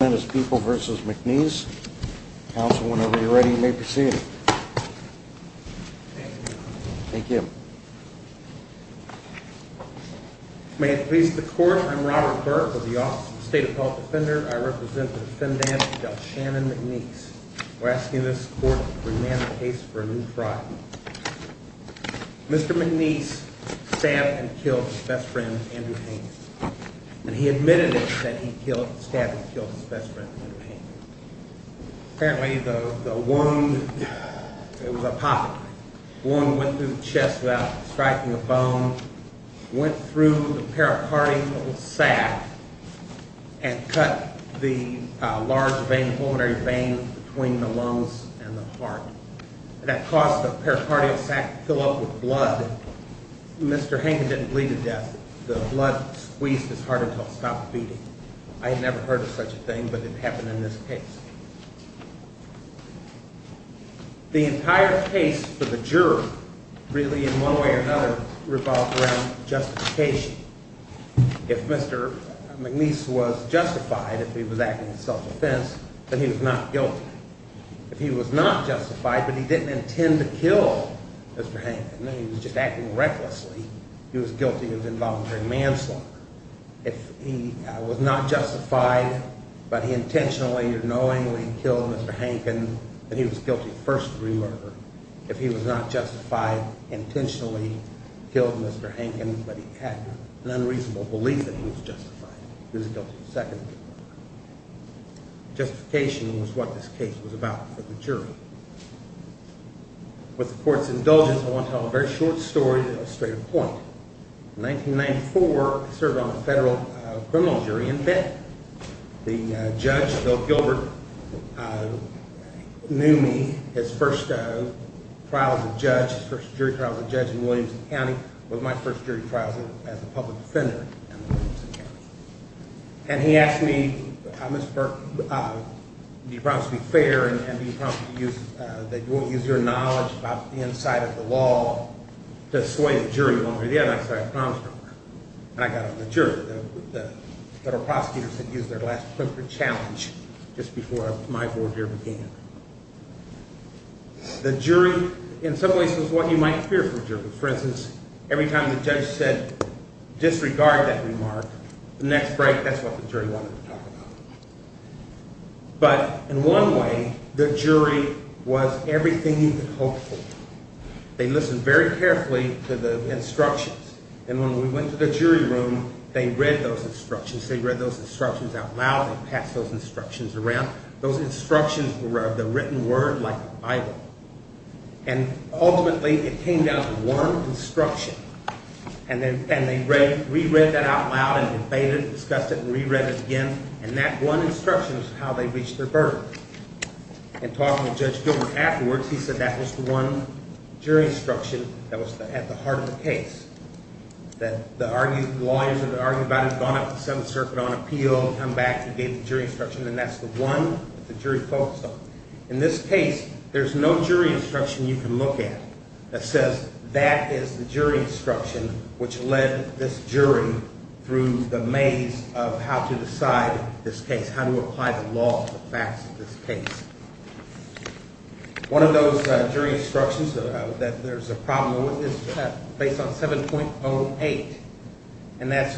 and his people versus McNeese. Council, whenever you're ready, you may proceed. Thank you. May it please the court, I'm Robert Burke with the Office of the State Appellate Defender. I represent the defendant Del Shannon McNeese. We're asking this court to remand the case for a new trial. Mr. McNeese stabbed and killed his best friend, Andrew Haynes, and he admitted it that he stabbed and killed his best friend, Andrew Haynes. Apparently the wound, it was apopheny, wound went through the chest without striking a bone, went through the pericardial sac and cut the large vein, pulmonary vein, between the lungs and the heart. That caused the pericardial sac to fill up with blood. Mr. Haynes didn't bleed to death. The blood squeezed his I had never heard of such a thing, but it happened in this case. The entire case for the juror really in one way or another revolved around justification. If Mr. McNeese was justified, if he was acting in self-defense, then he was not guilty. If he was not justified, but he didn't intend to kill Mr. Haynes, he was just acting recklessly, he was guilty of involuntary manslaughter. If he was not justified, but he intentionally or knowingly killed Mr. Hankin, then he was guilty of first degree murder. If he was not justified, intentionally killed Mr. Hankin, but he had an unreasonable belief that he was justified, he was guilty of second degree murder. Justification was what this case was about for the jury. With the court's indulgence, I want to tell a very short story that will illustrate a point. In 1994, I served on the federal criminal jury in Benton. The judge, Bill Gilbert, knew me, his first trial as a judge, his first jury trial as a judge in Williamson County, was my first jury trial as a public defender in Williamson County. And he asked me, Mr. Burke, do you promise to be fair and do you promise that you won't use your knowledge about the inside of the law to sway the jury longer? And I said, I promise, and I got on the jury. The federal prosecutors had used their last clip for challenge just before my forbear began. The jury, in some ways, is what you might fear for a jury. For instance, every time the judge said disregard that remark, the next break, that's what the jury wanted to talk about. But, in one way, the jury was everything you could hope for. They listened very carefully to the instructions. And when we went to the jury room, they read those instructions. They read those instructions out loud and passed those instructions around. Those instructions were the written word like the Bible. And, ultimately, it came down to one instruction. And they re-read that out loud and debated it, discussed it, and re-read it again. And that one instruction is how they reached their verdict. In talking with Judge Gilbert afterwards, he said that was the one jury instruction that was at the heart of the case. That the lawyers that argued about it had gone up to the Seventh Circuit on appeal, come back, and gave the jury instruction. And that's the one that the jury focused on. In this case, there's no jury instruction you can look at that says that is the jury instruction which led this jury through the maze of how to decide this case, how to apply the law to the facts of this case. One of those jury instructions that there's a problem with is based on 7.08. And that's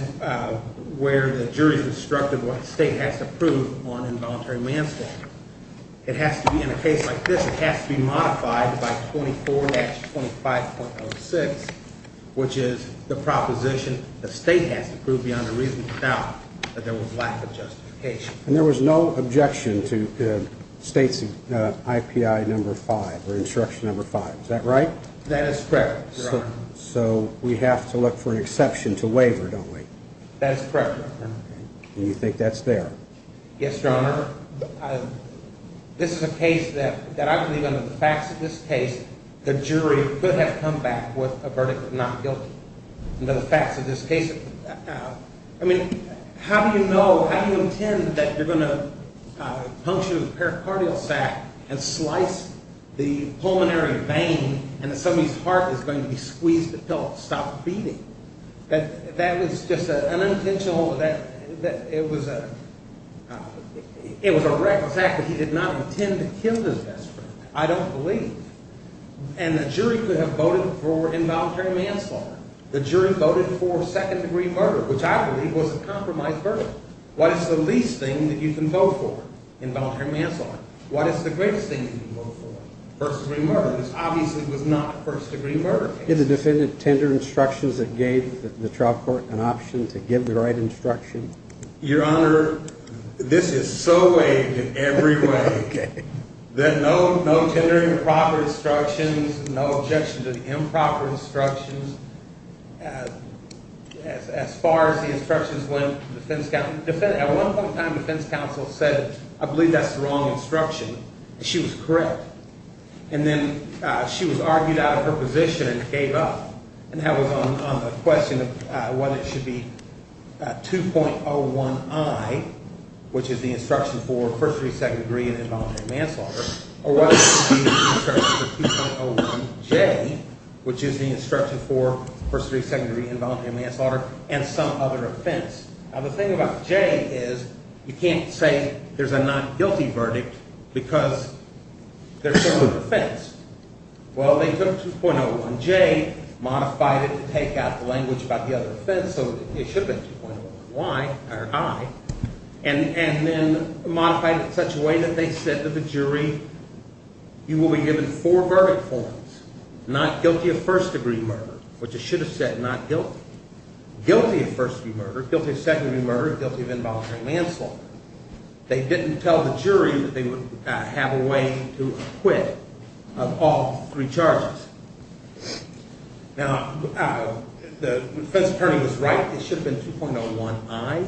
where the jury's instructed what the state has to prove on involuntary manslaughter. It has to be in a case like this, it has to be modified by 24-25.06, which is the proposition the state has to prove beyond a reasonable doubt that there was lack of justification. And there was no objection to the state's IPI number 5, or instruction number 5. Is that right? That is correct, Your Honor. So we have to look for an exception to waiver, don't we? That is correct, Your Honor. And you think that's there? Yes, Your Honor. This is a case that I believe under the facts of this case, the jury could have come back with a verdict of not guilty. Under the facts of this case, I mean, how do you know, how do you intend that you're going to puncture the pericardial sac and slice the pulmonary vein and that somebody's heart is going to be squeezed until it stops beating? That was just an It was a reckless act, but he did not intend to kill his best friend. I don't believe. And the jury could have voted for involuntary manslaughter. The jury voted for second-degree murder, which I believe was a compromised verdict. What is the least thing that you can vote for? Involuntary manslaughter. What is the greatest thing you can vote for? First-degree murder. This obviously was not a first-degree murder case. Did the defendant tender instructions that gave the trial court an Your Honor, this is so vague in every way that no tender improper instructions, no objection to the improper instructions as far as the instructions went. At one point in time, the defense counsel said, I believe that's the wrong instruction. She was correct. And then she was argued out of her position and gave up. And that was on the question of what it should be 2.01i, which is the instruction for first-degree, second-degree and involuntary manslaughter, or what should be the instruction for 2.01j, which is the instruction for first-degree, second-degree, involuntary manslaughter and some other offense. Now the thing about j is you can't say there's a not guilty verdict because they're similar offense. Well, they took 2.01j, modified it to take out the language about the other offense, so it should have been 2.01i, and then modified it in such a way that they said to the jury, you will be given four verdict forms, not guilty of first-degree murder, which it should have said not guilty, guilty of first-degree murder, guilty of second-degree murder, guilty of involuntary manslaughter. They didn't tell the jury. Now the defense attorney was right. It should have been 2.01i,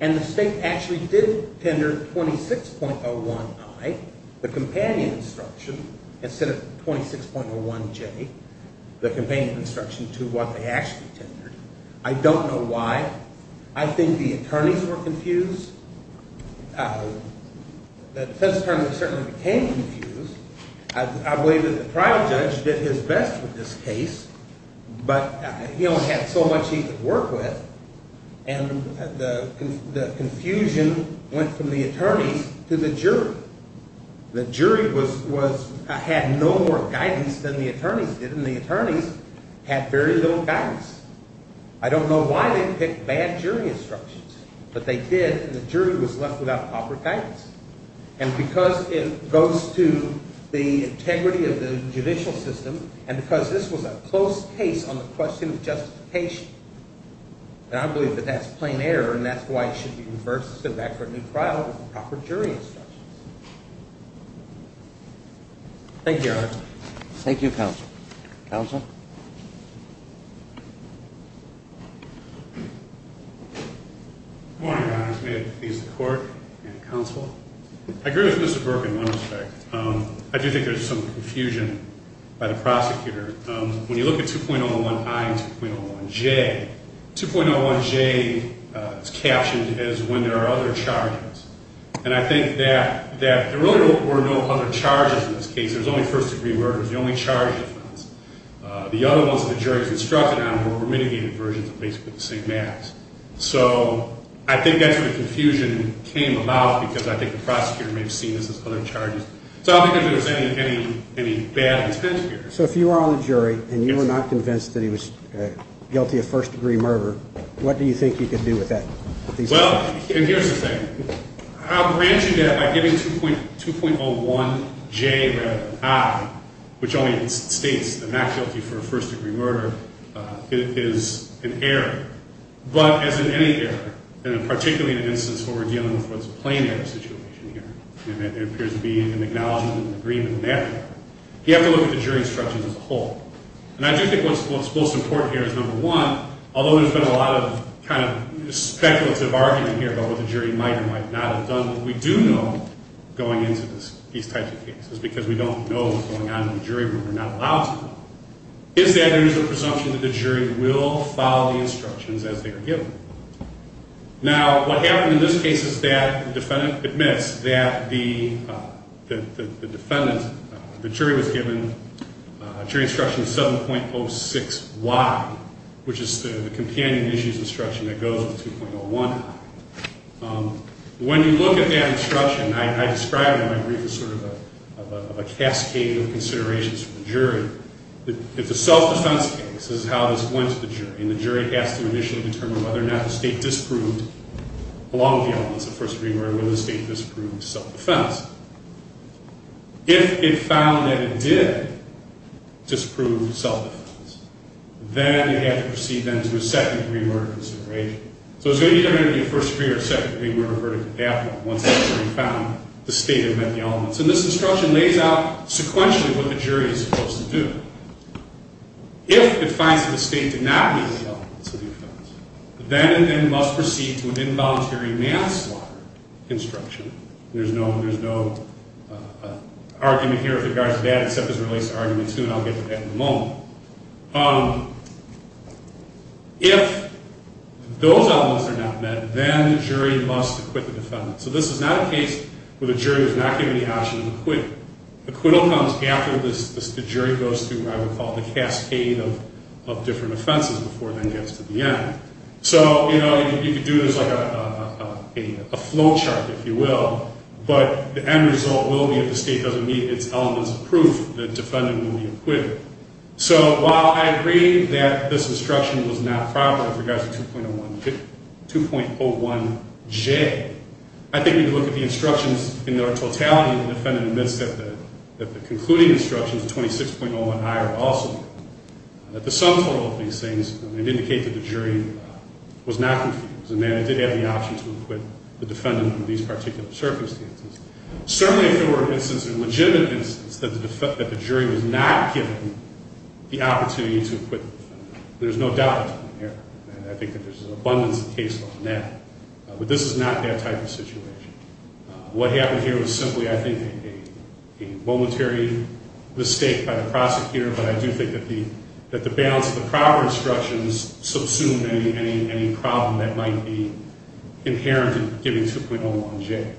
and the state actually did tender 26.01i, the companion instruction, instead of 26.01j, the companion instruction to what they actually tendered. I don't know why. I think the attorneys were confused. The defense attorney certainly became confused. I believe that the trial judge did his best with this case, but he only had so much he could work with, and the confusion went from the attorneys to the jury. The jury had no more guidance than the attorneys did, and the attorneys had very little guidance. I don't know why they picked bad jury instructions, but they did, and the jury was left without proper guidance, and because it goes to the integrity of the judicial system, and because this was a close case on the question of justification, and I believe that that's plain error, and that's why it should be reversed and sit back for a new trial with proper jury instructions. Thank you, Your Honor. Thank you, Counsel. Counsel? Good morning, Your Honor. May it please the Court and the Counsel? I agree with Mr. Burke in one by the prosecutor. When you look at 2.01i and 2.01j, 2.01j is captioned as when there are other charges, and I think that there really were no other charges in this case. There's only first degree murder. It's the only charge defense. The other ones that the jury's instructed on were mitigated versions of basically the same acts, so I think that's where the confusion came about, because I think the prosecutor may have seen this as other charges, so I don't think there was any bad intent here. So if you were on the jury, and you were not convinced that he was guilty of first degree murder, what do you think you could do with that? Well, and here's the thing. I'll grant you that by giving 2.01j rather than i, which only states that not guilty for a first degree murder is an error, but as in any error, in a particular instance where we're dealing with a plain error situation here, and there appears to be an acknowledgement and agreement in that part, you have to look at the jury instructions as a whole, and I do think what's most important here is, number one, although there's been a lot of kind of speculative argument here about what the jury might or might not have done, what we do know going into these types of cases, because we don't know what's going on in the jury room, we're not allowed to know, is that there is a presumption that the jury will follow the instructions as they are given. Now, what happened in this case is that the defendant admits that the jury was given a jury instruction of 7.06y, which is the companion issues instruction that goes with 2.01i. When you look at that instruction, I describe it in my brief as sort of a cascade of considerations for the jury. It's a self-defense case. This is how this went to the jury, and the jury has to initially determine whether or not the state disproved, along with the elements of first degree murder, whether the state disproved self-defense. If it found that it did disprove self-defense, then it had to proceed then to a second degree murder consideration. So it's going to either be a first degree or second degree murder verdict after, once the jury found the state had met the elements. And this instruction lays out sequentially what the jury is supposed to do. If it finds that the state did not meet the elements of the offense, then it must proceed to an involuntary manslaughter instruction. There's no argument here with regards to that except as it relates to argument two, and I'll get to that in a moment. If those elements are not met, then the jury must acquit the defendant. So this is not a case where the jury is not given the option to acquit. Acquittal comes after the jury goes through, I would call, the cascade of different offenses before it then gets to the end. So, you know, you could do this like a flow chart, if you will, but the end result will be if the state doesn't meet its elements of proof, the defendant will be acquitted. So while I agree that this instruction was not proper with regards to 2.01J, I think you can look at the instructions in their own right also that the sum total of these things would indicate that the jury was not confused and that it did have the option to acquit the defendant in these particular circumstances. Certainly if there were instances, legitimate instances, that the jury was not given the opportunity to acquit the defendant, there's no doubt between here and I think that there's an abundance of cases on that. But this is not that type of situation. What happened here was simply, I think, a momentary mistake by the prosecutor, but I do think that the balance of the proper instructions subsumed any problem that might be inherent in giving 2.01J.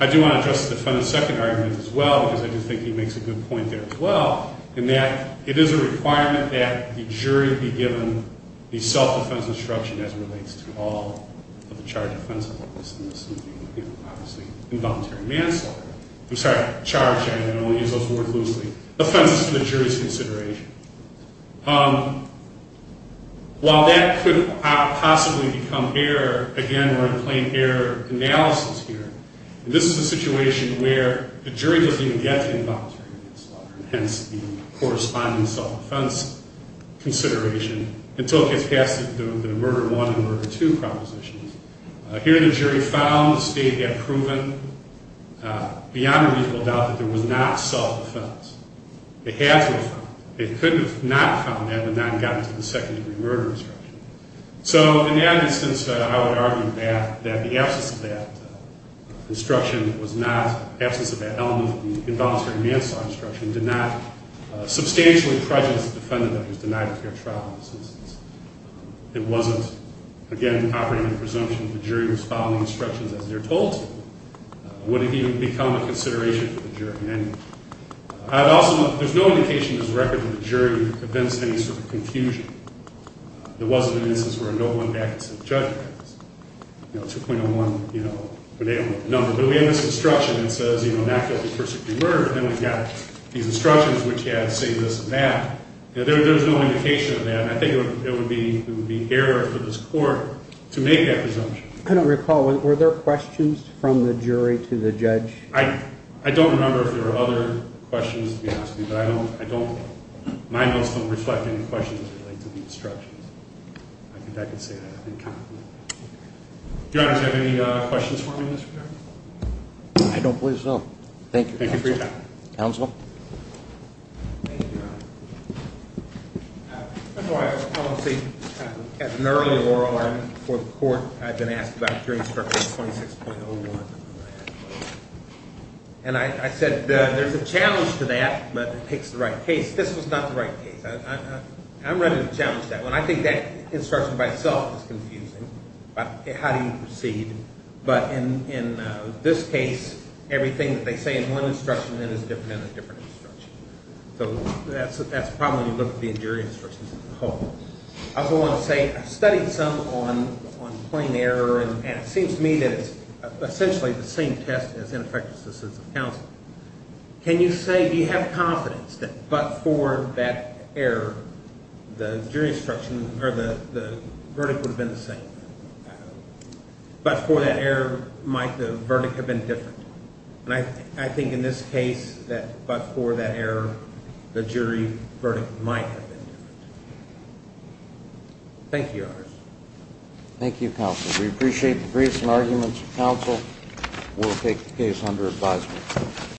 I do want to address the defendant's second argument as well, because I do think he makes a good point there as well, in that it is a requirement that the jury be given the self-defense instruction as it relates to all of the charged offensive workers in this individual case. Obviously, involuntary manslaughter. I'm sorry, charged, I only use those words loosely. Offenses to the jury's consideration. While that could possibly become error, again, we're in a plain error analysis here. This is a situation where the jury doesn't even get the involuntary manslaughter and hence the corresponding self-defense consideration until it gets past the murder one and murder two propositions. Here, the jury found, the state had proven, beyond a reasonable doubt, that there was not self-defense. They had to have found it. They could not have found that had it not gotten to the second-degree murder instruction. So, in that instance, I would argue that the absence of that instruction was not, the absence of that instruction was not an indication that the jury was following instructions as they're told to. Would it even become a consideration for the jury? There's no indication in this record that the jury convinced any sort of confusion. There wasn't an instance where a note went back and said, Judge, 2.01, you know, but they don't look at the number. But we have this instruction that says, you know, not guilty for second-degree murder. Then we've got these instructions which have this and that. There's no indication of that. I think it would be error for this court to make that presumption. I don't recall. Were there questions from the jury to the judge? I don't remember if there are other questions to be asked, but I don't, my notes don't reflect any questions as it relates to the instructions. I think I can say that in confidence. Your Honor, do you have any comments? Your Honor, before I was a policy, as an early lawyer for the court, I've been asked about jury instructions 26.01. And I said there's a challenge to that, but it takes the right case. This was not the right case. I'm ready to challenge that one. I think that instruction by itself is confusing. How do you proceed? But in this case, everything that they say in one instruction is different in a different instruction. So that's a problem when you look at the jury instructions as a whole. I also want to say I've studied some on plain error, and it seems to me that it's essentially the same test as ineffective assistance of counsel. Can you say, do you have confidence that but for that error, the jury instruction or the verdict would have been the same? But for that error, might the verdict have been different? And I think in this case, that but for that error, the jury verdict might have been different. Thank you, Your Honor. Thank you, counsel. We appreciate the briefs and arguments. Counsel will take the case under advisement.